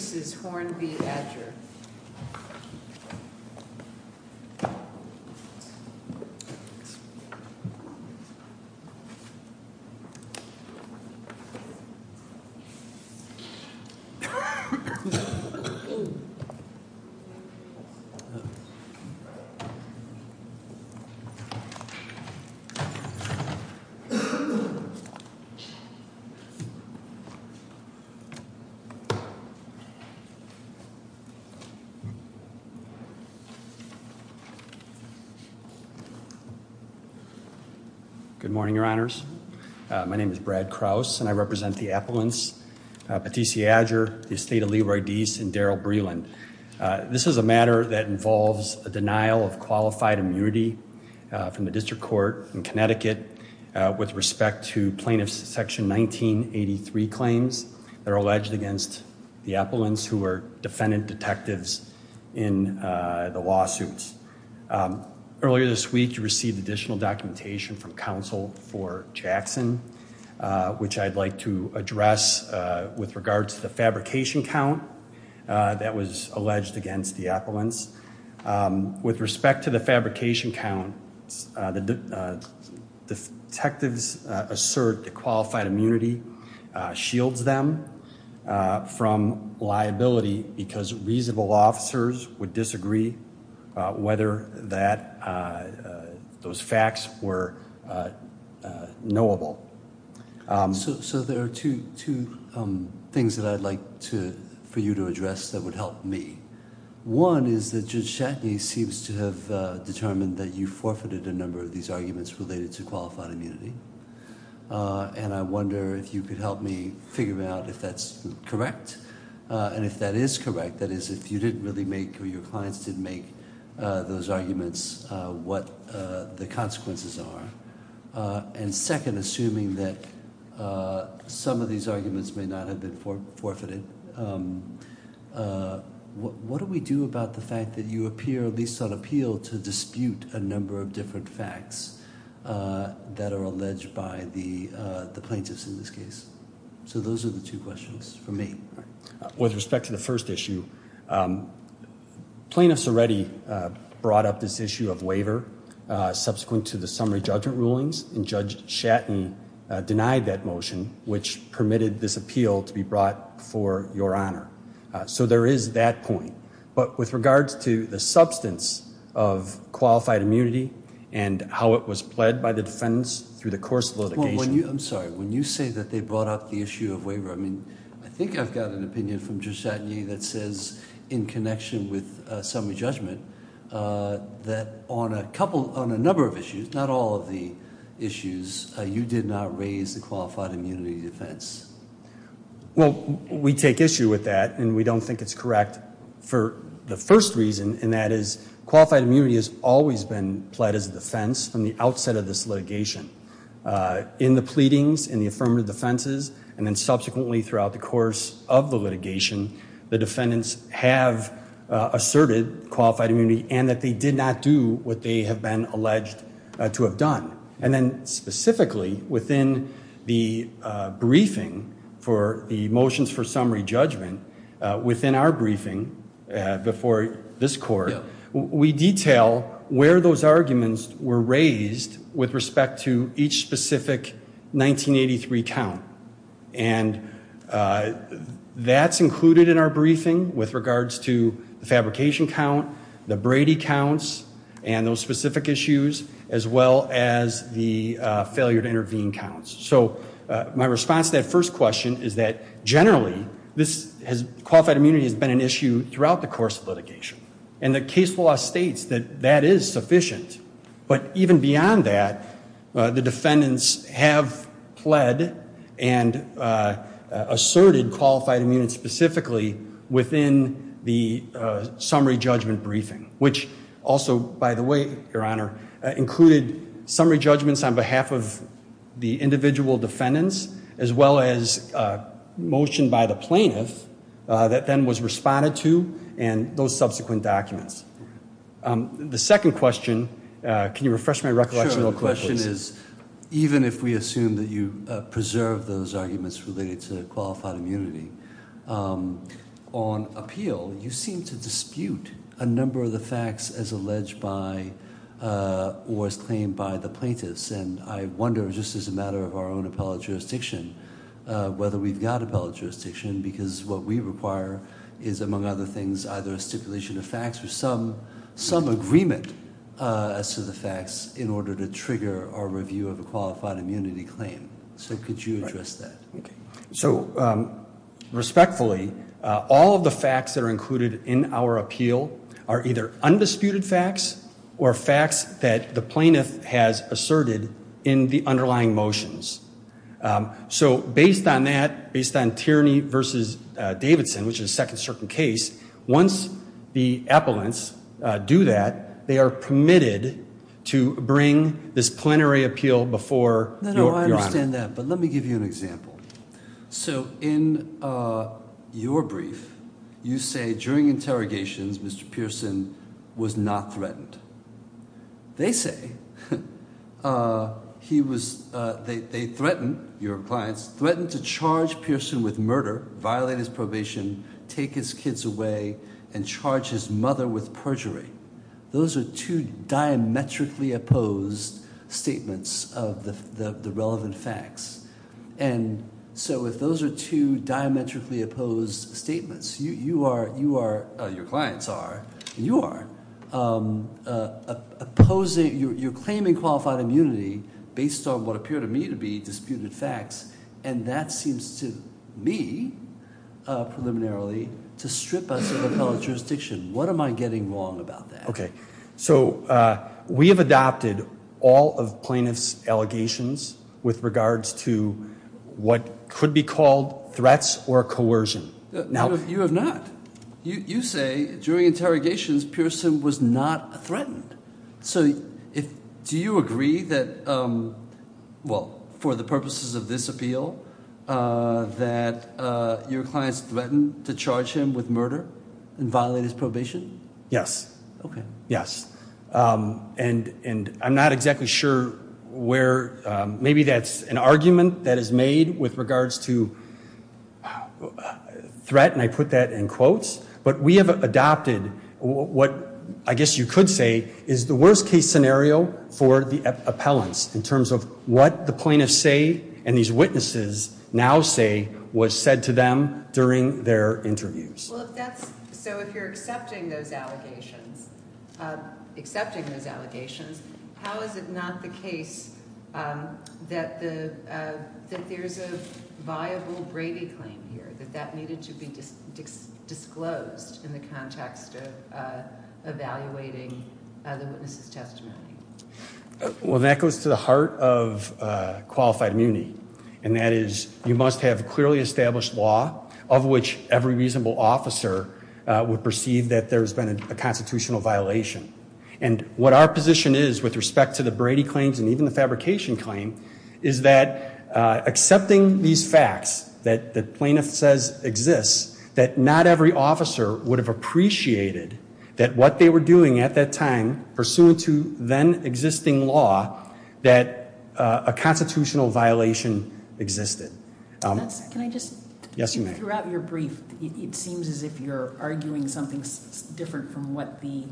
This is Horne v. Adger Good morning, Your Honors. My name is Brad Krause, and I represent the Appellants, Patissi Adger, the Estate of Leroy Deese, and Daryl Breland. This is a matter that involves a denial of qualified immunity from the District Court in Connecticut with respect to plaintiff's Section 1983 claims that are alleged against the Appellants who are defendant detectives in the lawsuits. Earlier this week, you received additional documentation from Counsel for Jackson, which I'd like to address with regard to the fabrication count that was alleged against the Appellants. With respect to the fabrication count, the detectives assert that qualified immunity shields them from liability because reasonable officers would disagree whether those facts were knowable. So there are two things that I'd like for you to address that would help me. One is that Judge Chatney seems to have determined that you forfeited a number of these arguments related to qualified immunity. And I wonder if you could help me figure out if that's correct and if that is correct, that is, if you didn't really make or your clients didn't make those arguments, what the consequences are. And second, assuming that some of these arguments may not have been forfeited, what do we do about the fact that you appear, at least on appeal, to dispute a number of different facts that are alleged by the plaintiffs in this case? So those are the two questions for me. With respect to the first issue, plaintiffs already brought up this issue of waiver subsequent to the summary judgment rulings, and Judge Chatney denied that motion, which permitted this appeal to be brought for your honor. So there is that point. But with regards to the substance of qualified immunity and how it was pled by the defendants through the course of litigation. I'm sorry. When you say that they brought up the issue of waiver, I mean, I think I've got an opinion from Judge Chatney that says, in connection with summary judgment, that on a number of issues, not all of the issues, you did not raise the qualified immunity defense. Well, we take issue with that, and we don't think it's correct for the first reason, and that is qualified immunity has always been pled as a defense from the outset of this litigation. In the pleadings, in the affirmative defenses, and then subsequently throughout the course of the litigation, the defendants have asserted qualified immunity and that they did not do what they have been alleged to have done. And then specifically within the briefing for the motions for summary judgment, within our briefing before this court, we detail where those arguments were raised with respect to each specific 1983 count. And that's included in our briefing with regards to the fabrication count, the Brady counts, and those specific issues, as well as the failure to intervene counts. So my response to that first question is that generally, qualified immunity has been an issue throughout the course of litigation. And the case law states that that is sufficient, but even beyond that, the defendants have pled and asserted qualified immunity specifically within the summary judgment briefing, which also, by the way, Your Honor, included summary judgments on behalf of the individual defendants, as well as a motion by the plaintiff that then was responded to and those subsequent documents. The second question, can you refresh my recollection real quick, please? Even if we assume that you preserve those arguments related to qualified immunity, on appeal, you seem to dispute a number of the facts as alleged by or as claimed by the plaintiffs. And I wonder, just as a matter of our own appellate jurisdiction, whether we've got appellate jurisdiction, because what we require is, among other things, either a stipulation of facts or some agreement as to the facts in order to trigger our review of a qualified immunity claim. So could you address that? So respectfully, all of the facts that are included in our appeal are either undisputed facts or facts that the plaintiff has asserted in the underlying motions. So based on that, based on Tierney v. Davidson, which is a second certain case, once the appellants do that, they are permitted to bring this plenary appeal before Your Honor. I understand that, but let me give you an example. So in your brief, you say during interrogations, Mr. Pearson was not threatened. They say he was – they threatened, your clients, threatened to charge Pearson with murder, violate his probation, take his kids away, and charge his mother with perjury. Those are two diametrically opposed statements of the relevant facts. And so if those are two diametrically opposed statements, you are – your clients are – you are opposing – you're claiming qualified immunity based on what appear to me to be disputed facts, and that seems to me, preliminarily, to strip us of appellate jurisdiction. What am I getting wrong about that? So we have adopted all of plaintiff's allegations with regards to what could be called threats or coercion. You have not. You say during interrogations Pearson was not threatened. So if – do you agree that – well, for the purposes of this appeal, that your clients threatened to charge him with murder and violate his probation? Yes. Okay. Yes. And I'm not exactly sure where – maybe that's an argument that is made with regards to threat, and I put that in quotes. But we have adopted what I guess you could say is the worst-case scenario for the appellants in terms of what the plaintiffs say and these witnesses now say was said to them during their interviews. Well, if that's – so if you're accepting those allegations – accepting those allegations, how is it not the case that the – that there's a viable Brady claim here, that that needed to be disclosed in the context of evaluating the witness's testimony? Well, that goes to the heart of qualified immunity, and that is you must have clearly established law of which every reasonable officer would perceive that there's been a constitutional violation. And what our position is with respect to the Brady claims and even the fabrication claim is that accepting these facts that the plaintiff says exists, that not every officer would have appreciated that what they were doing at that time, pursuant to then-existing law, that a constitutional violation existed. Can I just – Yes, you may. Throughout your brief, it seems as if you're arguing something different from what the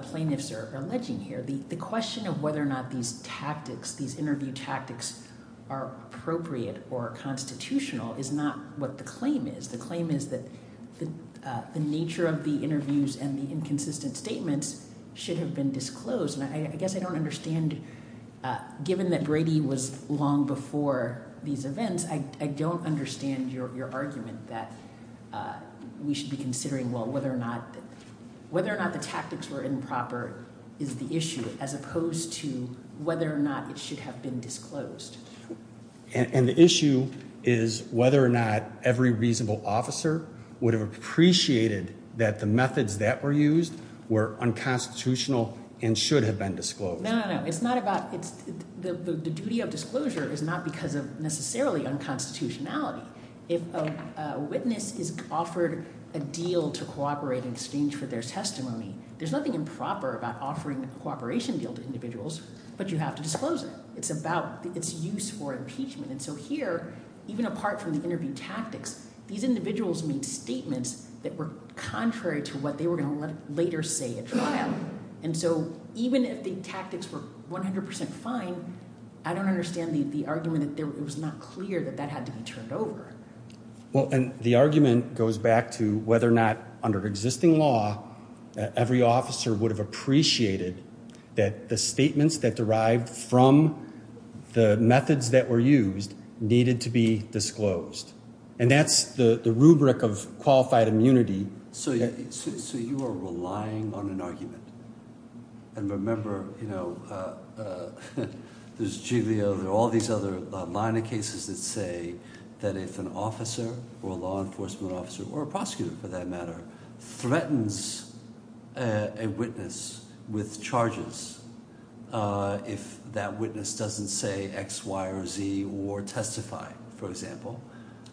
plaintiffs are alleging here. The question of whether or not these tactics, these interview tactics are appropriate or constitutional is not what the claim is. The claim is that the nature of the interviews and the inconsistent statements should have been disclosed, and I guess I don't understand – given that Brady was long before these events, I don't understand your argument that we should be considering, well, whether or not – whether or not the tactics were improper is the issue as opposed to whether or not it should have been disclosed. And the issue is whether or not every reasonable officer would have appreciated that the methods that were used were unconstitutional and should have been disclosed. No, no, no. It's not about – the duty of disclosure is not because of necessarily unconstitutionality. If a witness is offered a deal to cooperate in exchange for their testimony, there's nothing improper about offering a cooperation deal to individuals, but you have to disclose it. It's about its use for impeachment, and so here, even apart from the interview tactics, these individuals made statements that were contrary to what they were going to later say at trial. And so even if the tactics were 100 percent fine, I don't understand the argument that it was not clear that that had to be turned over. Well, and the argument goes back to whether or not under existing law every officer would have appreciated that the statements that derived from the methods that were used needed to be disclosed, and that's the rubric of qualified immunity. So you are relying on an argument, and remember there's Giglio. There are all these other line of cases that say that if an officer or a law enforcement officer or a prosecutor, for that matter, threatens a witness with charges, if that witness doesn't say X, Y, or Z or testify, for example,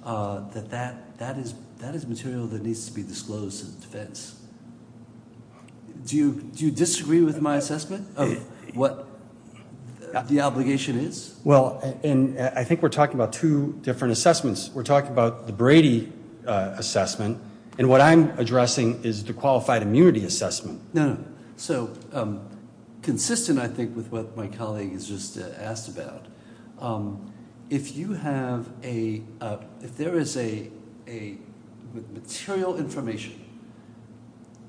that that is material that needs to be disclosed to the defense. Do you disagree with my assessment of what the obligation is? Well, and I think we're talking about two different assessments. We're talking about the Brady assessment, and what I'm addressing is the qualified immunity assessment. So consistent, I think, with what my colleague has just asked about, if you have a – if there is a – with material information,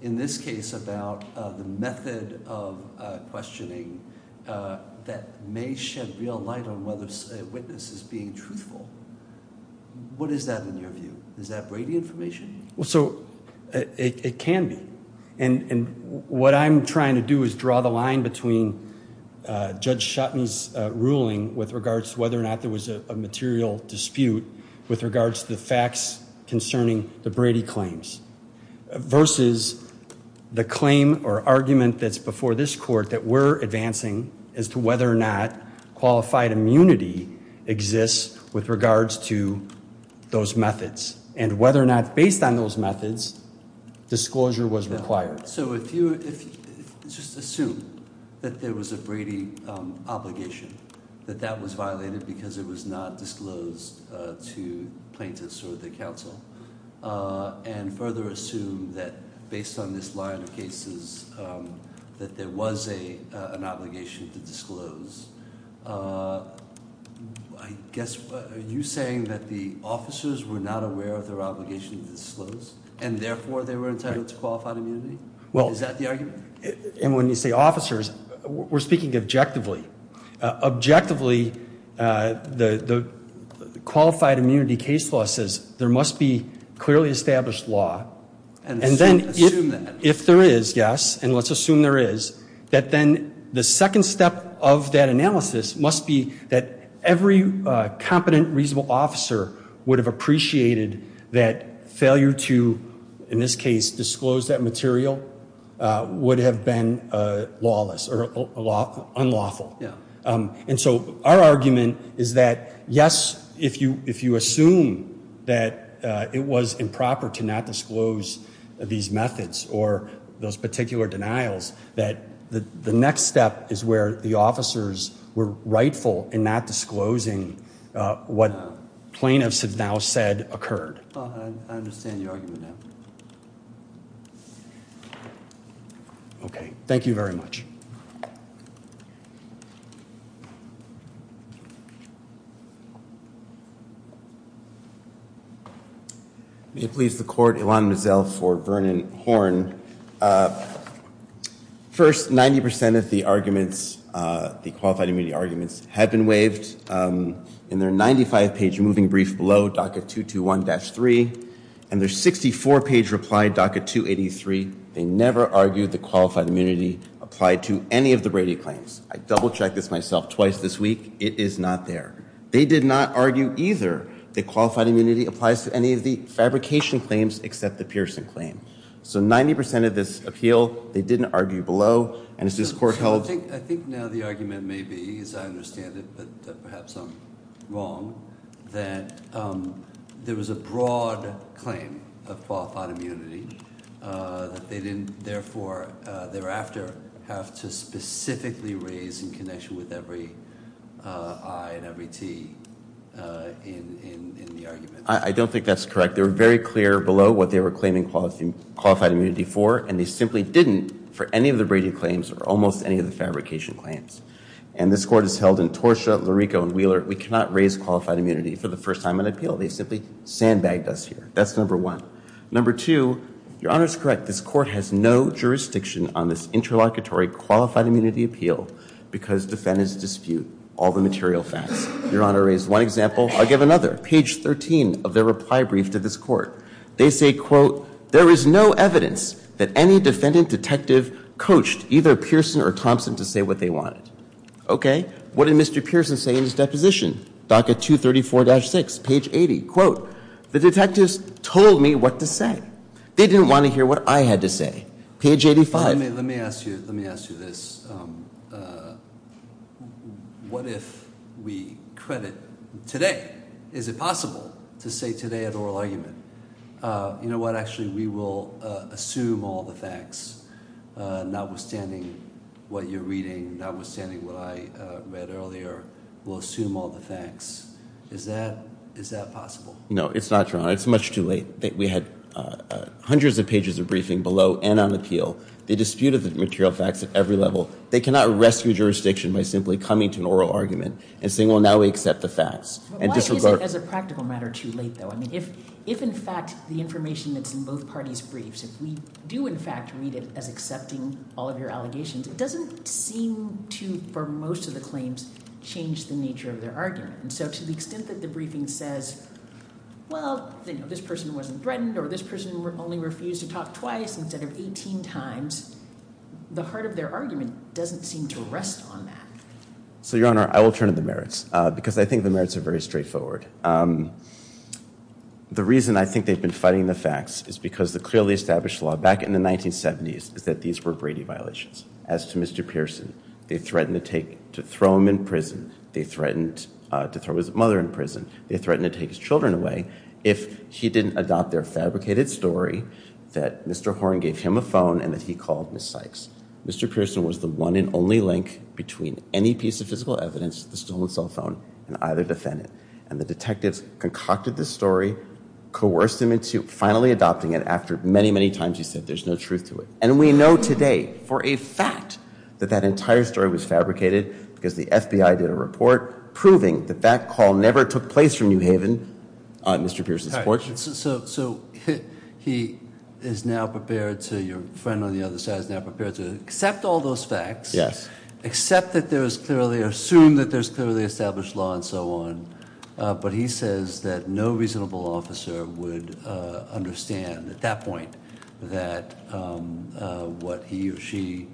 in this case about the method of questioning that may shed real light on whether a witness is being truthful, what is that in your view? Is that Brady information? So it can be, and what I'm trying to do is draw the line between Judge Shutton's ruling with regards to whether or not there was a material dispute with regards to the facts concerning the Brady claims versus the claim or argument that's before this court that we're advancing as to whether or not qualified immunity exists with regards to those methods, and whether or not, based on those methods, disclosure was required. So if you – just assume that there was a Brady obligation, that that was violated because it was not disclosed to plaintiffs or the counsel, and further assume that, based on this line of cases, that there was an obligation to disclose, I guess – are you saying that the officers were not aware of their obligation to disclose, and therefore they were entitled to qualified immunity? Well – Is that the argument? And when you say officers, we're speaking objectively. Objectively, the qualified immunity case law says there must be clearly established law. And assume that. If there is, yes, and let's assume there is, that then the second step of that analysis must be that every competent, reasonable officer would have appreciated that failure to, in this case, disclose that material would have been lawless or unlawful. And so our argument is that, yes, if you assume that it was improper to not disclose these methods or those particular denials, that the next step is where the officers were rightful in not disclosing what plaintiffs have now said occurred. I understand your argument now. Okay. Thank you very much. May it please the Court, Ilan Mazzel for Vernon Horn. First, 90% of the arguments, the qualified immunity arguments, had been waived. In their 95-page moving brief below, docket 221-3, and their 64-page reply, docket 283, they never argued that qualified immunity applied to any of the Brady claims. I double-checked this myself twice this week. It is not there. They did not argue either that qualified immunity applies to any of the fabrication claims except the Pearson claim. So 90% of this appeal, they didn't argue below. I think now the argument may be, as I understand it, but perhaps I'm wrong, that there was a broad claim of qualified immunity that they didn't, therefore, thereafter, have to specifically raise in connection with every I and every T in the argument. I don't think that's correct. They were very clear below what they were claiming qualified immunity for, and they simply didn't for any of the Brady claims or almost any of the fabrication claims. And this Court has held in Torshaw, Lurico, and Wheeler, we cannot raise qualified immunity for the first time in an appeal. They simply sandbagged us here. That's number one. Number two, your Honor is correct. This Court has no jurisdiction on this interlocutory qualified immunity appeal because defendants dispute all the material facts. Your Honor raised one example. I'll give another. Page 13 of their reply brief to this Court. They say, quote, there is no evidence that any defendant detective coached either Pearson or Thompson to say what they wanted. Okay. What did Mr. Pearson say in his deposition? DACA 234-6, page 80. Quote, the detectives told me what to say. They didn't want to hear what I had to say. Page 85. Let me ask you this. What if we credit today? Is it possible to say today at oral argument, you know what, actually, we will assume all the facts, notwithstanding what you're reading, notwithstanding what I read earlier. We'll assume all the facts. Is that possible? No, it's not, Your Honor. It's much too late. We had hundreds of pages of briefing below and on appeal. They disputed the material facts at every level. They cannot rescue jurisdiction by simply coming to an oral argument and saying, well, now we accept the facts. Why is it, as a practical matter, too late, though? I mean, if in fact the information that's in both parties' briefs, if we do in fact read it as accepting all of your allegations, it doesn't seem to, for most of the claims, change the nature of their argument. So to the extent that the briefing says, well, this person wasn't threatened or this person only refused to talk twice instead of 18 times, the heart of their argument doesn't seem to rest on that. So, Your Honor, I will turn to the merits because I think the merits are very straightforward. The reason I think they've been fighting the facts is because the clearly established law back in the 1970s is that these were Brady violations. As to Mr. Pearson, they threatened to take, to throw him in prison. They threatened to throw his mother in prison. They threatened to take his children away if he didn't adopt their fabricated story that Mr. Horne gave him a phone and that he called Ms. Sykes. Mr. Pearson was the one and only link between any piece of physical evidence, the stolen cell phone, and either defendant. And the detectives concocted this story, coerced him into finally adopting it after many, many times he said there's no truth to it. And we know today for a fact that that entire story was fabricated because the FBI did a report proving that that call never took place from New Haven, Mr. Pearson's fortune. So he is now prepared to, your friend on the other side is now prepared to accept all those facts. Yes. Accept that there is clearly, assume that there's clearly established law and so on. But he says that no reasonable officer would understand at that point that what he or she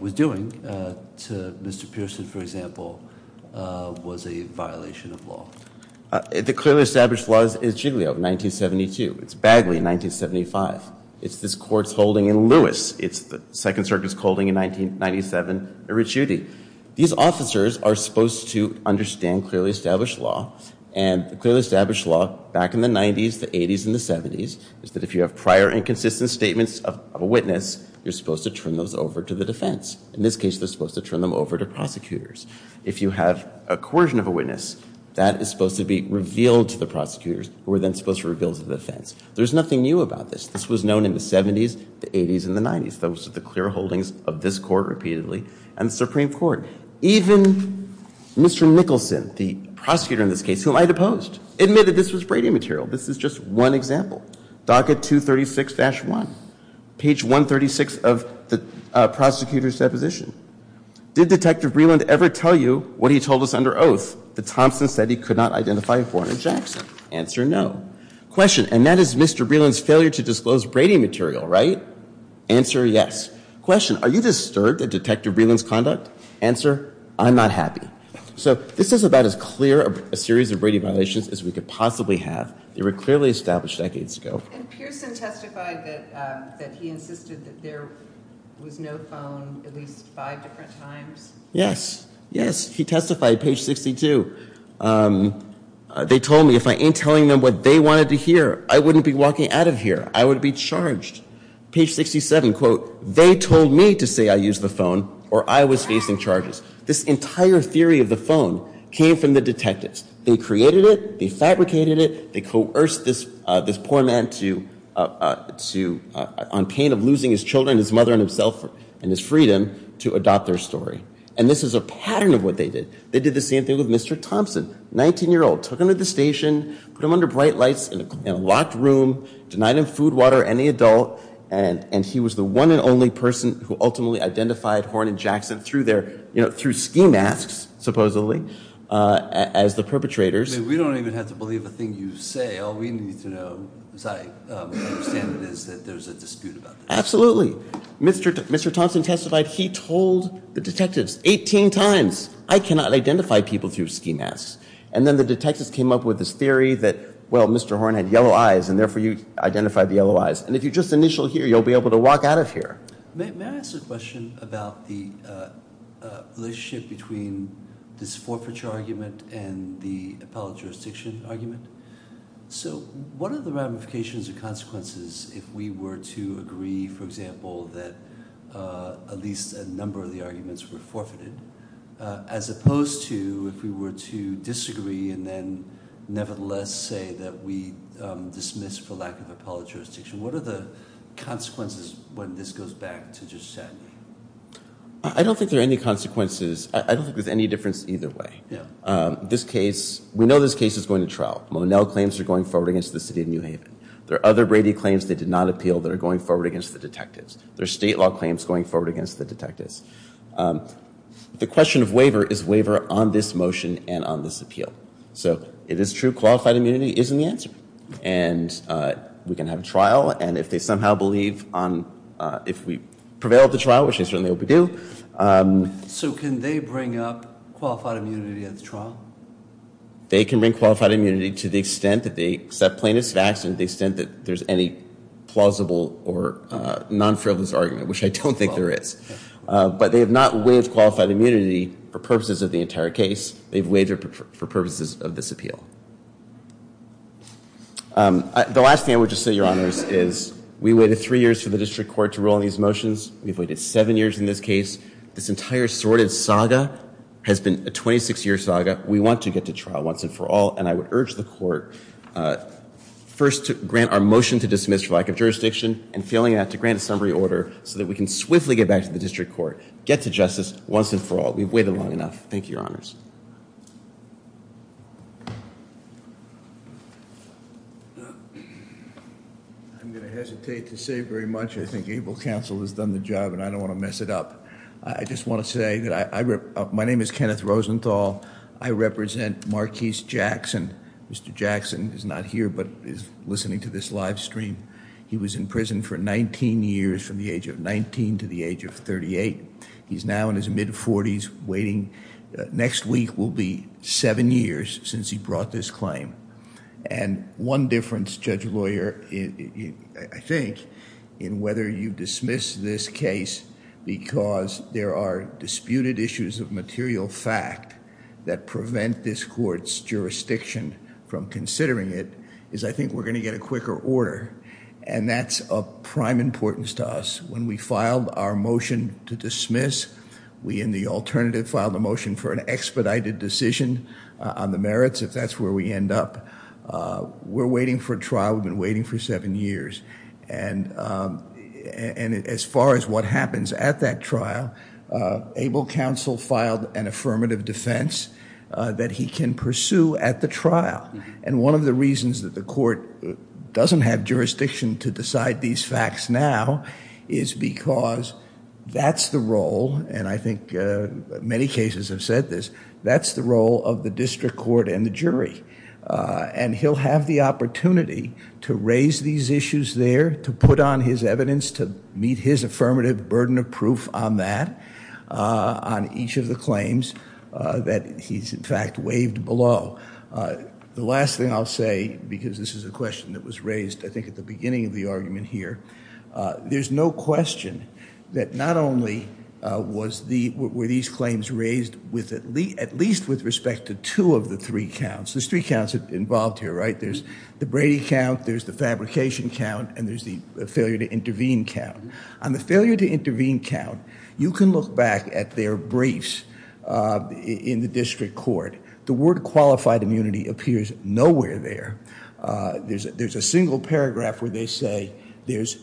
was doing to Mr. Pearson, for example, was a violation of law. The clearly established laws is Giglio, 1972. It's Bagley, 1975. It's this court's holding in Lewis. It's the Second Circuit's holding in 1997, Eric Schuette. These officers are supposed to understand clearly established law. And the clearly established law back in the 90s, the 80s, and the 70s is that if you have prior inconsistent statements of a witness, you're supposed to turn those over to the defense. In this case, they're supposed to turn them over to prosecutors. If you have a coercion of a witness, that is supposed to be revealed to the prosecutors who are then supposed to reveal to the defense. There's nothing new about this. This was known in the 70s, the 80s, and the 90s. Those are the clear holdings of this court repeatedly and the Supreme Court. Even Mr. Nicholson, the prosecutor in this case, who I deposed, admitted this was Brady material. This is just one example. DACA 236-1, page 136 of the prosecutor's deposition. Did Detective Breland ever tell you what he told us under oath that Thompson said he could not identify a foreigner in Jackson? Answer, no. Question, and that is Mr. Breland's failure to disclose Brady material, right? Answer, yes. Question, are you disturbed at Detective Breland's conduct? Answer, I'm not happy. So this is about as clear a series of Brady violations as we could possibly have. They were clearly established decades ago. And Pearson testified that he insisted that there was no phone at least five different times? Yes, yes. He testified, page 62. They told me if I ain't telling them what they wanted to hear, I wouldn't be walking out of here. I would be charged. Page 67, quote, they told me to say I used the phone or I was facing charges. This entire theory of the phone came from the detectives. They created it. They fabricated it. They coerced this poor man to, on pain of losing his children, his mother and himself and his freedom, to adopt their story. And this is a pattern of what they did. They did the same thing with Mr. Thompson, 19-year-old. Took him to the station, put him under bright lights in a locked room, denied him food, water, any adult, and he was the one and only person who ultimately identified Horn and Jackson through ski masks, supposedly, as the perpetrators. We don't even have to believe a thing you say. All we need to know is I understand that there's a dispute about this. Absolutely. Mr. Thompson testified he told the detectives 18 times, I cannot identify people through ski masks. And then the detectives came up with this theory that, well, Mr. Horn had yellow eyes, and therefore you identified the yellow eyes. And if you just initial here, you'll be able to walk out of here. May I ask a question about the relationship between this forfeiture argument and the appellate jurisdiction argument? So what are the ramifications or consequences if we were to agree, for example, that at least a number of the arguments were forfeited, as opposed to if we were to disagree and then nevertheless say that we dismiss for lack of appellate jurisdiction? What are the consequences when this goes back to Judge Satney? I don't think there are any consequences. I don't think there's any difference either way. This case, we know this case is going to trial. Monel claims they're going forward against the city of New Haven. There are other Brady claims they did not appeal that are going forward against the detectives. There are state law claims going forward against the detectives. The question of waiver is waiver on this motion and on this appeal. So it is true qualified immunity isn't the answer. And we can have a trial. And if they somehow believe on if we prevail at the trial, which I certainly hope we do. So can they bring up qualified immunity at the trial? They can bring qualified immunity to the extent that they accept plaintiffs' facts and the extent that there's any plausible or non-frivolous argument, which I don't think there is. But they have not waived qualified immunity for purposes of the entire case. They've waived it for purposes of this appeal. The last thing I would just say, Your Honors, is we waited three years for the district court to rule on these motions. We've waited seven years in this case. This entire sordid saga has been a 26-year saga. We want to get to trial once and for all. And I would urge the court first to grant our motion to dismiss for lack of jurisdiction and failing that to grant a summary order so that we can swiftly get back to the district court, get to justice once and for all. We've waited long enough. Thank you, Your Honors. I'm going to hesitate to say very much. I think ABLE counsel has done the job, and I don't want to mess it up. I just want to say that my name is Kenneth Rosenthal. I represent Marquis Jackson. Mr. Jackson is not here but is listening to this live stream. He was in prison for 19 years from the age of 19 to the age of 38. He's now in his mid-40s waiting. Next week will be seven years since he brought this claim. And one difference, Judge Lawyer, I think, in whether you dismiss this case because there are disputed issues of material fact that prevent this court's jurisdiction from considering it is I think we're going to get a quicker order, and that's of prime importance to us. When we filed our motion to dismiss, we in the alternative filed a motion for an expedited decision on the merits if that's where we end up. We're waiting for trial. We've been waiting for seven years. And as far as what happens at that trial, ABLE counsel filed an affirmative defense that he can pursue at the trial. And one of the reasons that the court doesn't have jurisdiction to decide these facts now is because that's the role, and I think many cases have said this, that's the role of the district court and the jury. And he'll have the opportunity to raise these issues there, to put on his evidence, to meet his affirmative burden of proof on that, on each of the claims that he's, in fact, waived below. The last thing I'll say, because this is a question that was raised, I think, at the beginning of the argument here, there's no question that not only were these claims raised at least with respect to two of the three counts. There's three counts involved here, right? There's the Brady count, there's the fabrication count, and there's the failure to intervene count. On the failure to intervene count, you can look back at their briefs in the district court. The word qualified immunity appears nowhere there. There's a single paragraph where they say there's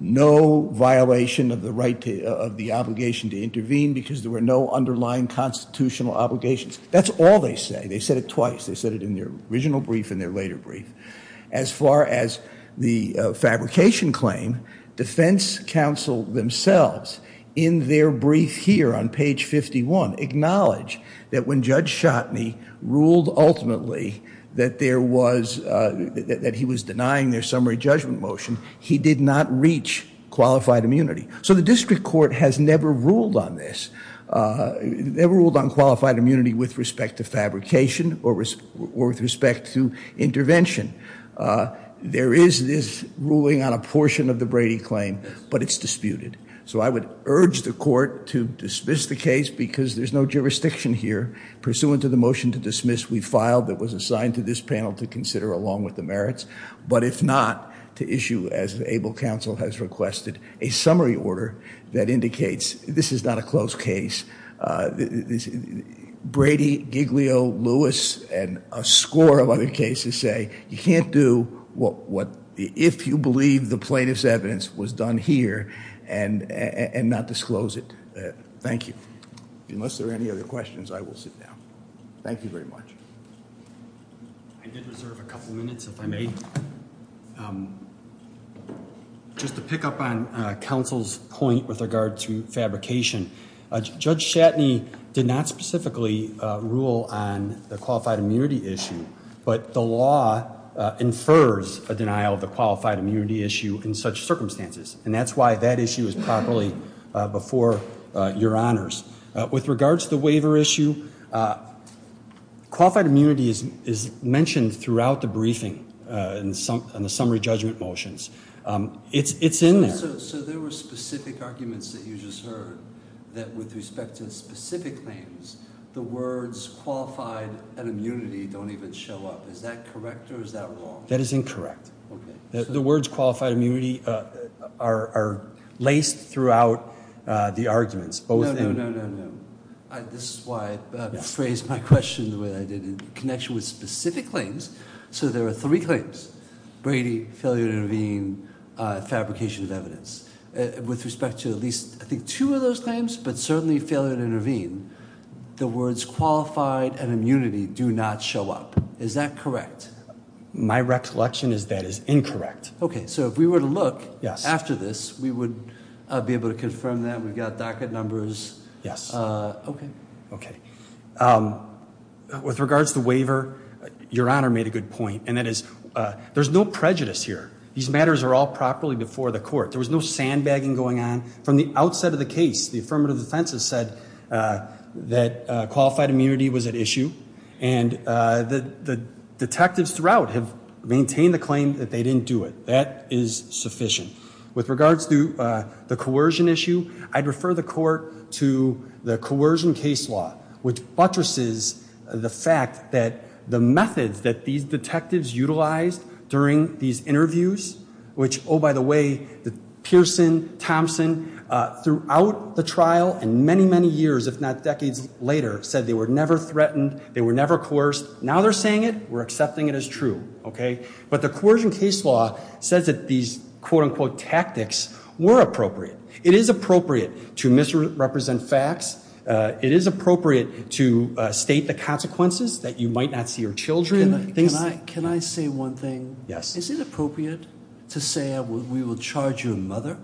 no violation of the obligation to intervene because there were no underlying constitutional obligations. That's all they say. They said it twice. They said it in their original brief and their later brief. As far as the fabrication claim, defense counsel themselves, in their brief here on page 51, acknowledge that when Judge Schotteny ruled ultimately that he was denying their summary judgment motion, he did not reach qualified immunity. So the district court has never ruled on this, never ruled on qualified immunity with respect to fabrication or with respect to intervention. There is this ruling on a portion of the Brady claim, but it's disputed. So I would urge the court to dismiss the case because there's no jurisdiction here. Pursuant to the motion to dismiss, we filed that was assigned to this panel to consider along with the merits. But if not, to issue, as the able counsel has requested, a summary order that indicates this is not a closed case. Brady, Giglio, Lewis, and a score of other cases say you can't do what if you believe the plaintiff's evidence was done here and not disclose it. Thank you. Unless there are any other questions, I will sit down. Thank you very much. I did reserve a couple minutes if I may. Just to pick up on counsel's point with regard to fabrication, Judge Schotteny did not specifically rule on the qualified immunity issue, but the law infers a denial of the qualified immunity issue in such circumstances. And that's why that issue is properly before your honors. With regard to the waiver issue, qualified immunity is mentioned throughout the briefing in the summary judgment motions. It's in there. So there were specific arguments that you just heard that with respect to specific claims, the words qualified and immunity don't even show up. Is that correct or is that wrong? That is incorrect. Okay. The words qualified immunity are laced throughout the arguments. No, no, no, no, no. This is why I phrased my question the way I did, in connection with specific claims. So there are three claims, Brady, failure to intervene, fabrication of evidence. With respect to at least, I think, two of those claims, but certainly failure to intervene, the words qualified and immunity do not show up. Is that correct? My recollection is that is incorrect. Okay. So if we were to look after this, we would be able to confirm that. We've got docket numbers. Yes. Okay. Okay. With regards to the waiver, your honor made a good point, and that is there's no prejudice here. These matters are all properly before the court. There was no sandbagging going on. From the outset of the case, the affirmative defense has said that qualified immunity was at issue, and the detectives throughout have maintained the claim that they didn't do it. That is sufficient. With regards to the coercion issue, I'd refer the court to the coercion case law, which buttresses the fact that the methods that these detectives utilized during these interviews, which, oh, by the way, Pearson, Thompson, throughout the trial and many, many years, if not decades later, said they were never threatened, they were never coerced. Now they're saying it. We're accepting it as true. Okay. But the coercion case law says that these, quote, unquote, tactics were appropriate. It is appropriate to misrepresent facts. It is appropriate to state the consequences, that you might not see your children. Can I say one thing? Yes. Is it appropriate to say we will charge your mother?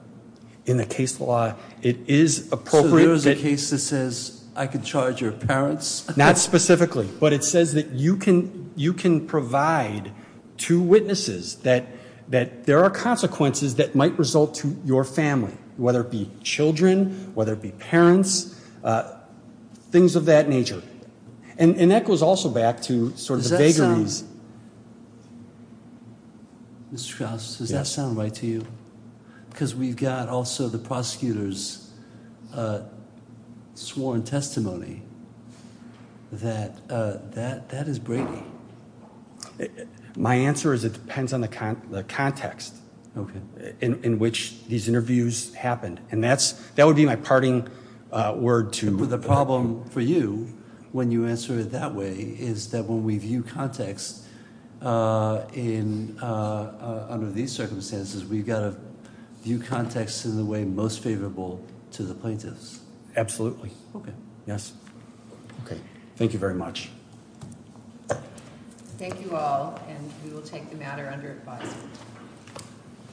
In the case law, it is appropriate. So there is a case that says I can charge your parents? Not specifically. But it says that you can provide to witnesses that there are consequences that might result to your family, whether it be children, whether it be parents, things of that nature. And that goes also back to sort of vagaries. Does that sound right to you? Because we've got also the prosecutor's sworn testimony that that is brainy. My answer is it depends on the context in which these interviews happened. And that would be my parting word to- The problem for you when you answer it that way is that when we view context under these circumstances, we've got to view context in the way most favorable to the plaintiffs. Absolutely. Okay. Yes. Okay. Thank you very much. Thank you all. And we will take the matter under advice.